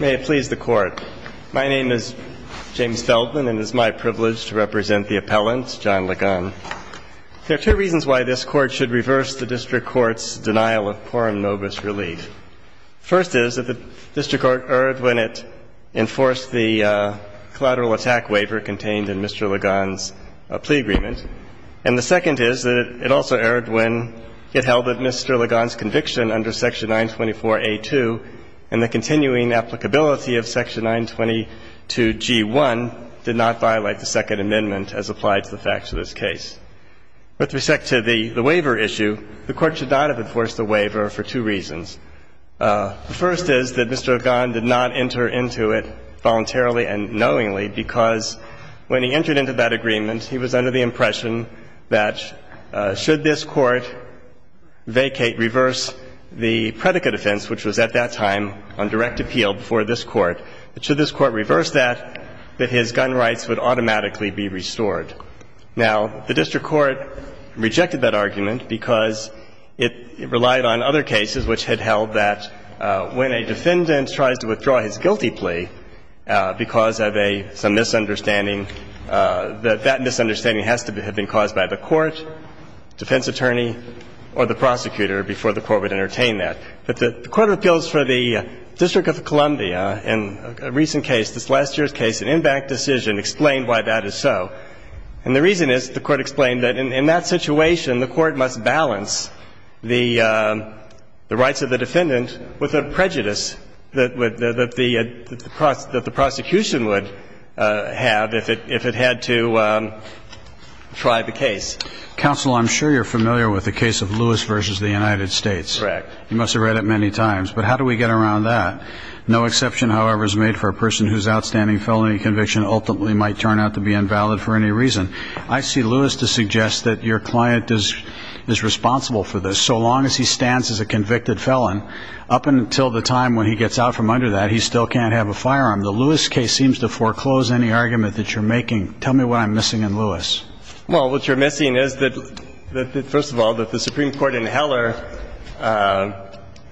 May it please the Court. My name is James Feldman, and it is my privilege to represent the appellant, John Ligon. There are two reasons why this Court should reverse the district court's denial of quorum nobis relief. First is that the district court erred when it enforced the collateral attack waiver contained in Mr. Ligon's plea agreement. And the second is that it also erred when it held that Mr. Ligon's conviction under Section 924A2 and the continuing applicability of Section 922G1 did not violate the Second Amendment as applied to the facts of this case. With respect to the waiver issue, the Court should not have enforced the waiver for two reasons. The first is that Mr. Ligon did not enter into it voluntarily and knowingly, because when he entered into that agreement, he was under the impression that should this Court vacate, reverse the predicate offense, which was at that time on direct appeal before this Court, that should this Court reverse that, that his gun rights would automatically be restored. Now, the district court rejected that argument because it relied on other cases which had held that when a defendant tries to withdraw his guilty plea because of a – some misunderstanding, that that misunderstanding has to have been caused by the court, defense attorney, or the prosecutor before the Court would entertain that. But the Court of Appeals for the District of Columbia in a recent case, this last year's case, an impact decision, explained why that is so. And the reason is, the Court explained, that in that situation, the Court must balance the rights of the defendant with the prejudice that would – that the prosecution would have if it – if it had to try the case. Counsel, I'm sure you're familiar with the case of Lewis v. the United States. Correct. You must have read it many times. But how do we get around that? No exception, however, is made for a person whose outstanding felony conviction ultimately might turn out to be invalid for any reason. I see Lewis to suggest that your client is responsible for this. So long as he stands as a convicted felon, up until the time when he gets out from under that, he still can't have a firearm. The Lewis case seems to foreclose any argument that you're making. Tell me what I'm missing in Lewis. Well, what you're missing is that – first of all, that the Supreme Court in Heller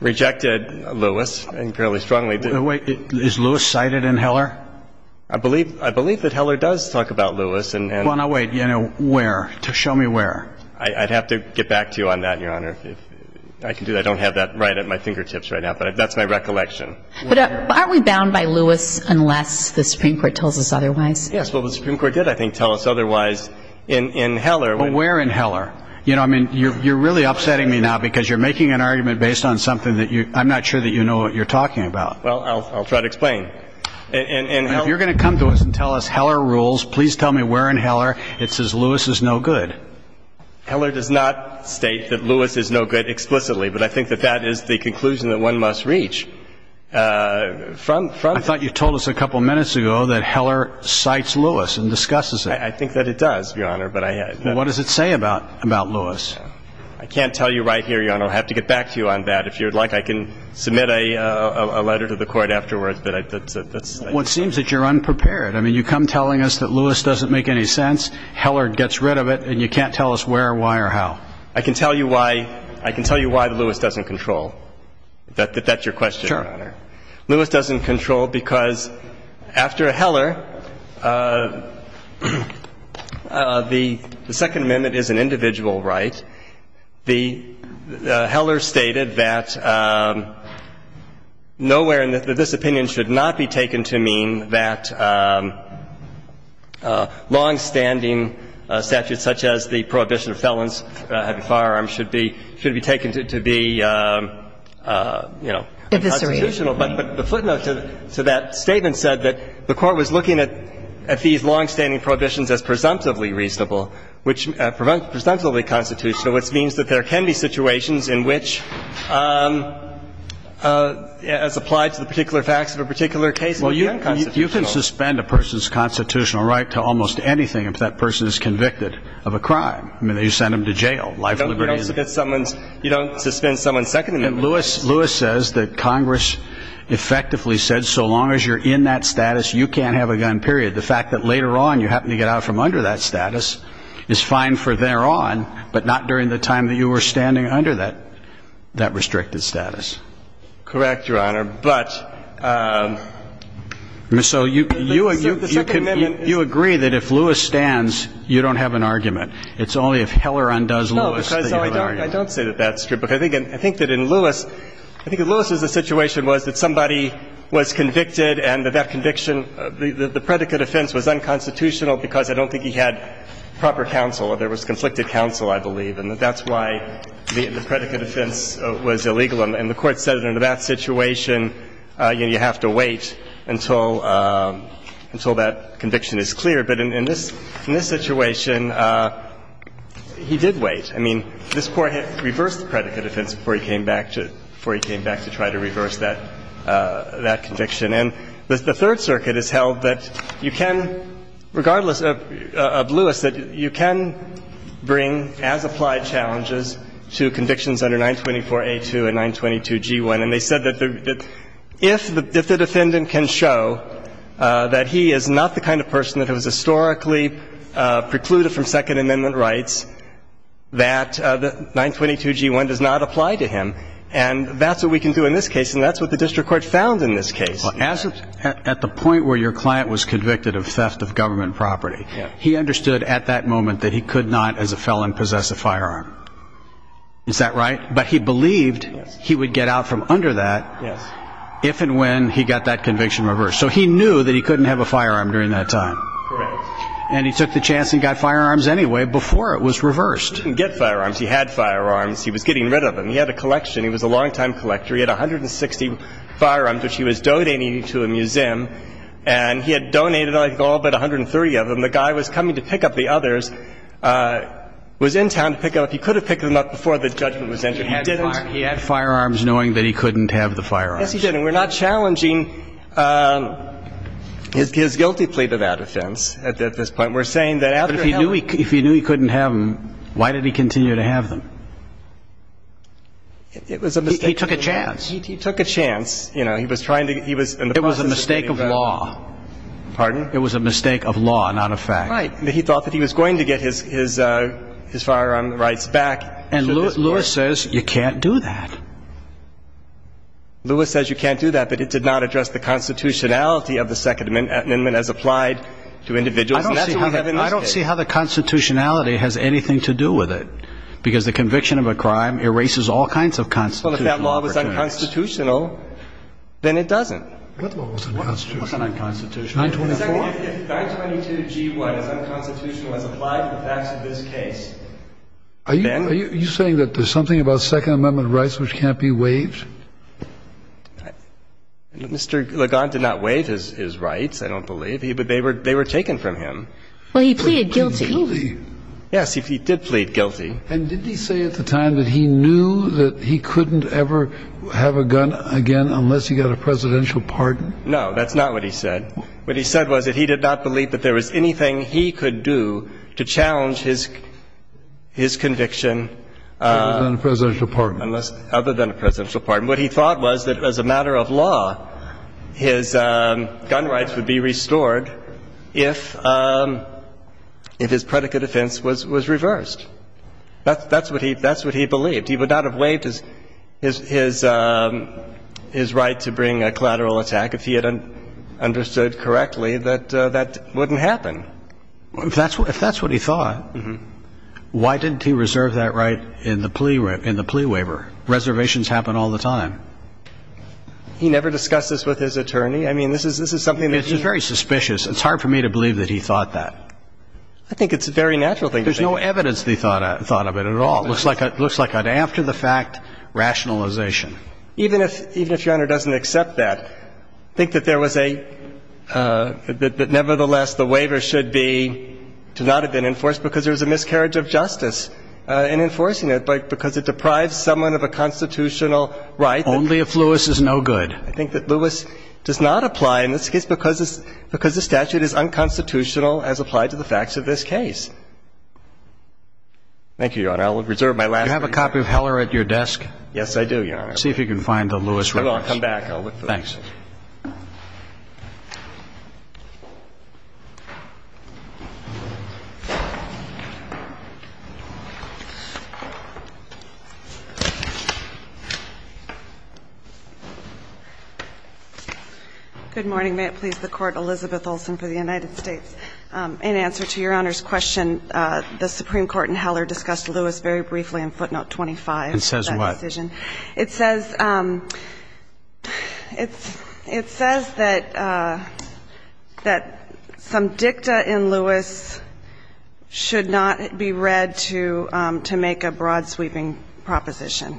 rejected Lewis, and fairly strongly did. Wait. Is Lewis cited in Heller? I believe – I believe that Heller does talk about Lewis, and – Well, now wait. You know where? Show me where. I'd have to get back to you on that, Your Honor. If I can do that. I don't have that right at my fingertips right now, but that's my recollection. But aren't we bound by Lewis unless the Supreme Court tells us otherwise? Yes. Well, the Supreme Court did, I think, tell us otherwise in Heller. But where in Heller? You know, I mean, you're really upsetting me now because you're making an argument based on something that you – I'm not sure that you know what you're talking about. Well, I'll try to explain. In Heller – If you're going to come to us and tell us Heller rules, please tell me where in Heller it says Lewis is no good. Heller does not state that Lewis is no good explicitly, but I think that that is the conclusion that one must reach. From – I thought you told us a couple of minutes ago that Heller cites Lewis and discusses it. I think that it does, Your Honor, but I – Well, what does it say about Lewis? I can't tell you right here, Your Honor. I'll have to get back to you on that. If you would like, I can submit a letter to the Court afterwards, but that's – Well, it seems that you're unprepared. I mean, you come telling us that Lewis doesn't make any sense, Heller gets rid of it, and you can't tell us where, why, or how. I can tell you why – I can tell you why Lewis doesn't control. That's your question, Your Honor. Sure. Lewis doesn't control because after Heller, the Second Amendment is an individual right. And Heller stated that nowhere in this opinion should not be taken to mean that long-standing statutes such as the prohibition of felons having firearms should be – should be taken to be, you know, unconstitutional. But the footnote to that statement said that the Court was looking at these long-standing prohibitions as presumptively reasonable, which – presumptively constitutional, which means that there can be situations in which, as applied to the particular facts of a particular case, they're unconstitutional. Well, you can suspend a person's constitutional right to almost anything if that person is convicted of a crime. I mean, you send them to jail. Life, liberty, and – You don't suspend someone's Second Amendment rights. Lewis says that Congress effectively said so long as you're in that status, you can't have a gun, period. The fact that later on, you happen to get out from under that status is fine for thereon, but not during the time that you were standing under that – that restricted status. Correct, Your Honor. But – So you – The Second Amendment – You agree that if Lewis stands, you don't have an argument. It's only if Heller undoes Lewis that you have an argument. No, because I don't – I don't say that that's true. Because I think that in Lewis – I think in Lewis's situation was that somebody was convicted and that that conviction – the predicate offense was unconstitutional because I don't think he had proper counsel. There was conflicted counsel, I believe, and that's why the predicate offense was illegal. And the Court said in that situation, you know, you have to wait until – until that conviction is clear. But in this – in this situation, he did wait. I mean, this Court reversed the predicate offense before he came back to – before he came back to try to reverse that – that conviction. And the Third Circuit has held that you can, regardless of Lewis, that you can bring, as applied challenges, to convictions under 924a2 and 922g1. And they said that if the defendant can show that he is not the kind of person that has historically precluded from Second Amendment rights, that 922g1 does not apply to him. And that's what we can do in this case, and that's what the District Court found in this case. Well, as of – at the point where your client was convicted of theft of government property, he understood at that moment that he could not, as a felon, possess a firearm. Is that right? But he believed he would get out from under that if and when he got that conviction reversed. So he knew that he couldn't have a firearm during that time. Correct. And he took the chance and got firearms anyway before it was reversed. He didn't get firearms. He had firearms. He was getting rid of them. He had a collection. He was a longtime collector. He had 160 firearms, which he was donating to a museum. And he had donated, I think, all but 130 of them. The guy was coming to pick up the others, was in town to pick them up. He could have picked them up before the judgment was entered. He didn't. He had firearms, knowing that he couldn't have the firearms. Yes, he did. And we're not challenging his guilty plea to that offense at this point. We're saying that after – But if he knew he couldn't have them, why did he continue to have them? It was a mistake. He took a chance. He took a chance. You know, he was trying to – he was in the process of getting – It was a mistake of law. Pardon? It was a mistake of law, not a fact. Right. But he thought that he was going to get his firearm rights back. And Lewis says you can't do that. Lewis says you can't do that, but it did not address the constitutionality of the Second Amendment as applied to individuals. I don't see how the constitutionality has anything to do with it. Because the conviction of a crime erases all kinds of constitutional – Well, if that law was unconstitutional, then it doesn't. What law was unconstitutional? What's unconstitutional? 924. If 922G1 is unconstitutional as applied to the facts of this case, then – Mr. LeGon, you can't be waived? Mr. LeGon did not waive his rights, I don't believe. They were taken from him. Well, he pleaded guilty. Yes, he did plead guilty. And did he say at the time that he knew that he couldn't ever have a gun again unless he got a presidential pardon? No, that's not what he said. What he said was that he did not believe that there was anything he could do to challenge his conviction – Other than a presidential pardon. Other than a presidential pardon. What he thought was that as a matter of law, his gun rights would be restored if his predicate offense was reversed. That's what he believed. He would not have waived his right to bring a collateral attack if he had understood correctly that that wouldn't happen. If that's what he thought, why didn't he reserve that right in the plea waiver? Reservations happen all the time. He never discussed this with his attorney? I mean, this is something that he – It's very suspicious. It's hard for me to believe that he thought that. I think it's a very natural thing to think. There's no evidence that he thought of it at all. It looks like an after-the-fact rationalization. Even if Your Honor doesn't accept that, I think that there was a – that nevertheless the waiver should be – to not have been enforced because there was a miscarriage of justice in enforcing it because it deprives someone of a constitutional right. Only if Lewis is no good. I think that Lewis does not apply in this case because the statute is unconstitutional as applied to the facts of this case. Thank you, Your Honor. I will reserve my last three minutes. Do you have a copy of Heller at your desk? Yes, I do, Your Honor. See if you can find the Lewis reference. I will. I'll come back. I'll look for it. Thanks. Good morning. May it please the Court, Elizabeth Olsen for the United States. In answer to Your Honor's question, the Supreme Court in Heller discussed Lewis very briefly in footnote 25 of that decision. It says what? It says that some dicta in Lewis should not be read to make a broad sweeping proposition.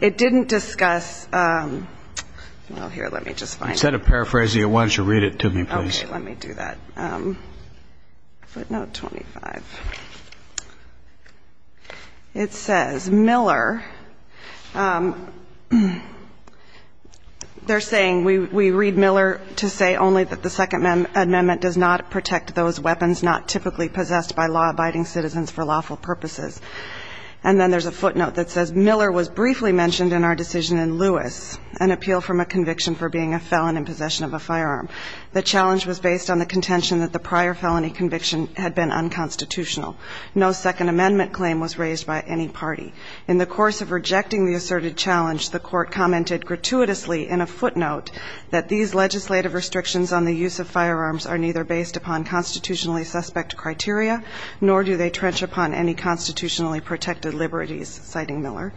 It didn't discuss – well, here, let me just find it. Instead of paraphrasing it, why don't you read it to me, please? Okay, let me do that. Footnote 25. It says Miller – they're saying we read Miller to say only that the Second Amendment does not protect those weapons not typically possessed by law-abiding citizens for lawful purposes. And then there's a footnote that says Miller was briefly mentioned in our decision in Lewis, an appeal from a conviction for being a felon in possession of a firearm. The challenge was based on the contention that the prior felony conviction had been unconstitutional. No Second Amendment claim was raised by any party. In the course of rejecting the asserted challenge, the Court commented gratuitously in a footnote that these legislative restrictions on the use of firearms are neither based upon constitutionally suspect criteria nor do they trench upon any constitutionally protected liberties, citing Miller.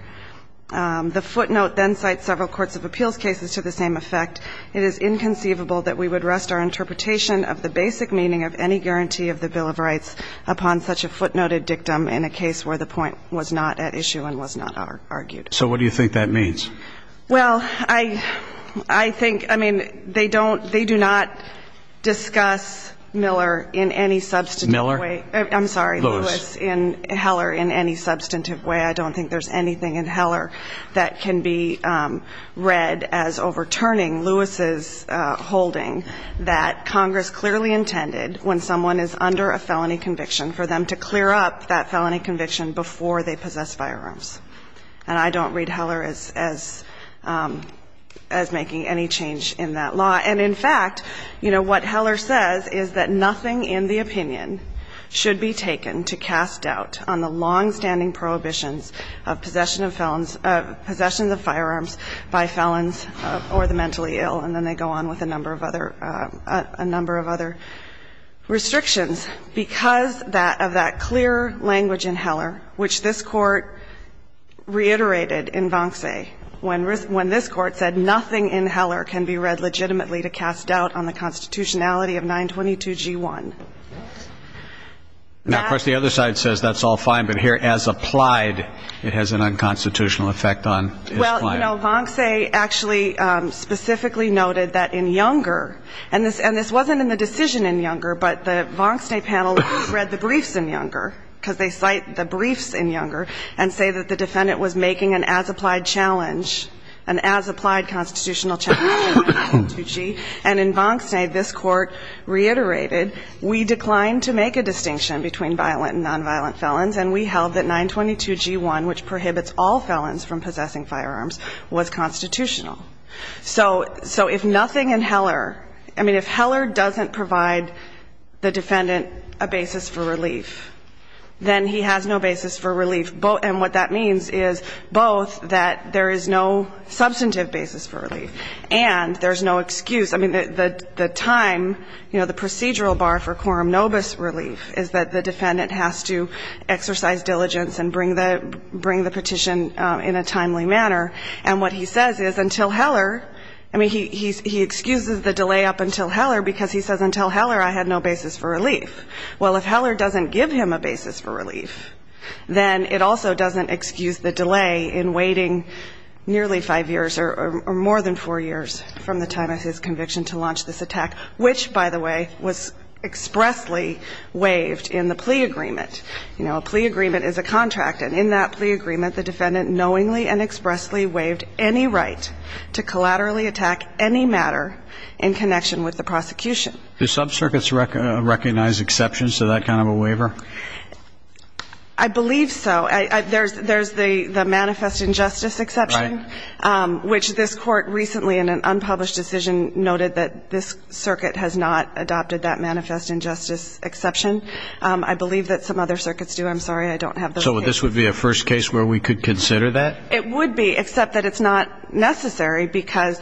The footnote then cites several courts of appeals cases to the same effect. It is inconceivable that we would rest our interpretation of the basic meaning of any guarantee of the Bill of Rights upon such a footnoted dictum in a case where the point was not at issue and was not argued. So what do you think that means? Well, I think, I mean, they don't, they do not discuss Miller in any substantive way. Miller? I'm sorry. Lewis. Lewis in Heller in any substantive way. I don't think there's anything in Heller that can be read as overturning Lewis's holding that Congress clearly intended when someone is under a felony conviction for them to clear up that felony conviction before they possess firearms. And I don't read Heller as making any change in that law. And in fact, you know, what Heller says is that nothing in the opinion should be taken to cast doubt on the longstanding prohibitions of possession of firearms by felons or the mentally ill. And then they go on with a number of other restrictions because of that clear language in Heller, which this Court reiterated in Vonce when this Court said nothing in Heller can be read legitimately to cast doubt on the constitutionality of 922G1. Now, of course, the other side says that's all fine. But here, as applied, it has an unconstitutional effect on. Well, you know, Vonce actually specifically noted that in Younger, and this wasn't in the decision in Younger, but the Vonce panel read the briefs in Younger because they cite the briefs in Younger and say that the defendant was making an as-applied challenge, an as-applied constitutional challenge to 922G. And in Vonce, this Court reiterated, we declined to make a distinction between violent and nonviolent felons, and we held that 922G1, which prohibits all felons from possessing firearms, was constitutional. So if nothing in Heller, I mean, if Heller doesn't provide the defendant a basis for relief, then he has no basis for relief. And what that means is both that there is no substantive basis for relief and there's no excuse. I mean, the time, you know, the procedural bar for quorum nobis relief is that the defendant has to exercise diligence and bring the petition in a timely manner. And what he says is until Heller, I mean, he excuses the delay up until Heller because he says until Heller I had no basis for relief. Well, if Heller doesn't give him a basis for relief, then it also doesn't excuse the delay in waiting nearly five years or more than four years from the time of his conviction to launch this attack, which, by the way, was expressly waived in the plea agreement. You know, a plea agreement is a contract. And in that plea agreement, the defendant knowingly and expressly waived any right to collaterally attack any matter in connection with the prosecution. Do subcircuits recognize exceptions to that kind of a waiver? I believe so. There's the manifest injustice exception, which this court recently in an unpublished decision noted that this circuit has not adopted that manifest injustice exception. I believe that some other circuits do. I'm sorry, I don't have those cases. So this would be a first case where we could consider that? It would be, except that it's not necessary because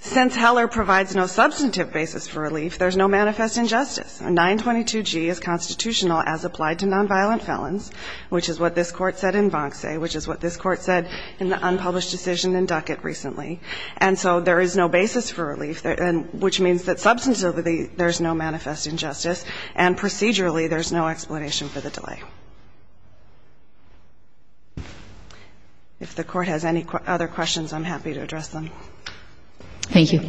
since Heller provides no substantive basis for relief, there's no manifest injustice. And 922G is constitutional as applied to nonviolent felons, which is what this court said in Vonce, which is what this court said in the unpublished decision in Duckett recently. And so there is no basis for relief, which means that substantively there's no manifest injustice, and procedurally there's no explanation for the delay. Thank you. If the Court has any other questions, I'm happy to address them. Thank you.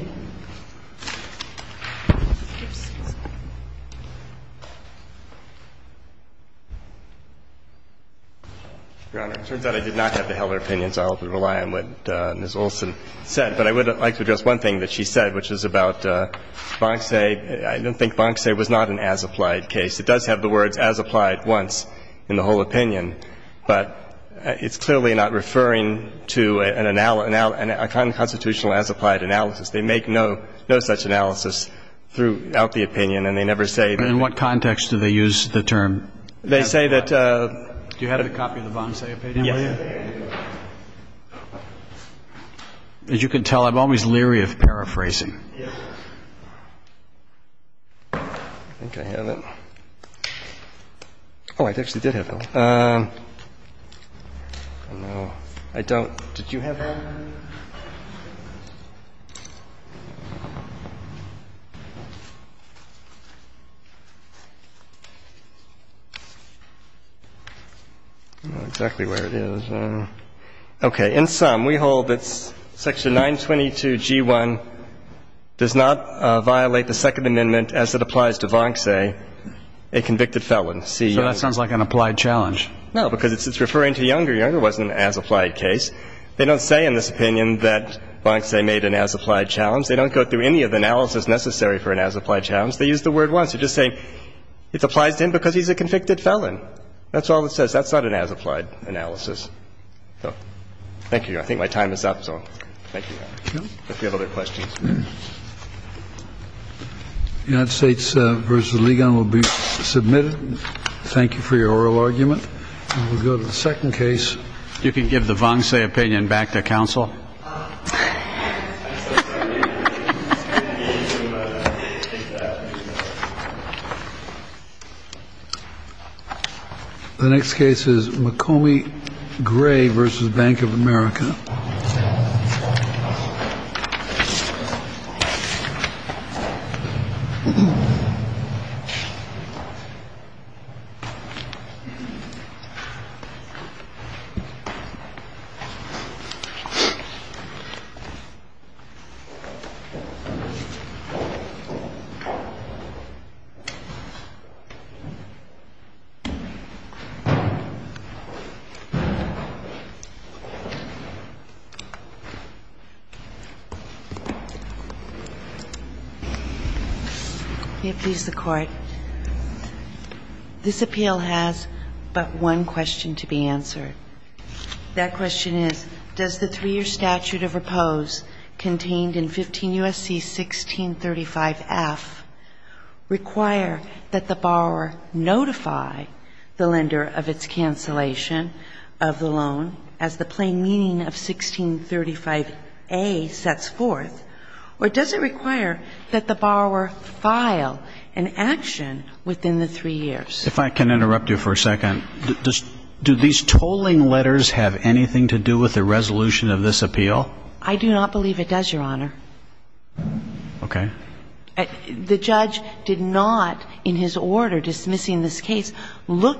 Your Honor, it turns out I did not have the Heller opinions. I'll have to rely on what Ms. Olson said. But I would like to address one thing that she said, which is about Vonce. I don't think Vonce was not an as-applied case. It does have the words as-applied once in the whole opinion, but it's clearly not referring to an unconstitutional as-applied analysis. They make no such analysis throughout the opinion, and they never say that. In what context do they use the term? They say that. Do you have a copy of the Vonce opinion? Yes. As you can tell, I'm always leery of paraphrasing. Yes. I think I have it. Oh, I actually did have it. No, I don't. Did you have it? I don't know exactly where it is. Okay. In sum, we hold that Section 922G1 does not violate the Second Amendment as it applies to Vonce, a convicted felon. So that sounds like an applied challenge. No, because it's referring to Younger. Younger wasn't an as-applied case. They don't say in this opinion that Vonce made an as-applied challenge. They don't go through any of the analysis necessary for an as-applied challenge. They use the word once. They're just saying it applies to him because he's a convicted felon. That's all it says. That's not an as-applied analysis. Thank you. I think my time is up, so thank you. If you have other questions. The United States v. Ligon will be submitted. Thank you for your oral argument. We'll go to the second case. You can give the Vonce opinion back to counsel. The next case is McCombie Gray v. Bank of America. May it please the Court. This appeal has but one question to be answered. That question is, does the three-year statute of repose contained in 15 U.S.C. 1635F require that the borrower notify the lender of its cancellation of the loan as the plain meaning of 1635A sets forth, or does it require that the borrower file an action within the three years? If I can interrupt you for a second. Do these tolling letters have anything to do with the resolution of this appeal? I do not believe it does, Your Honor.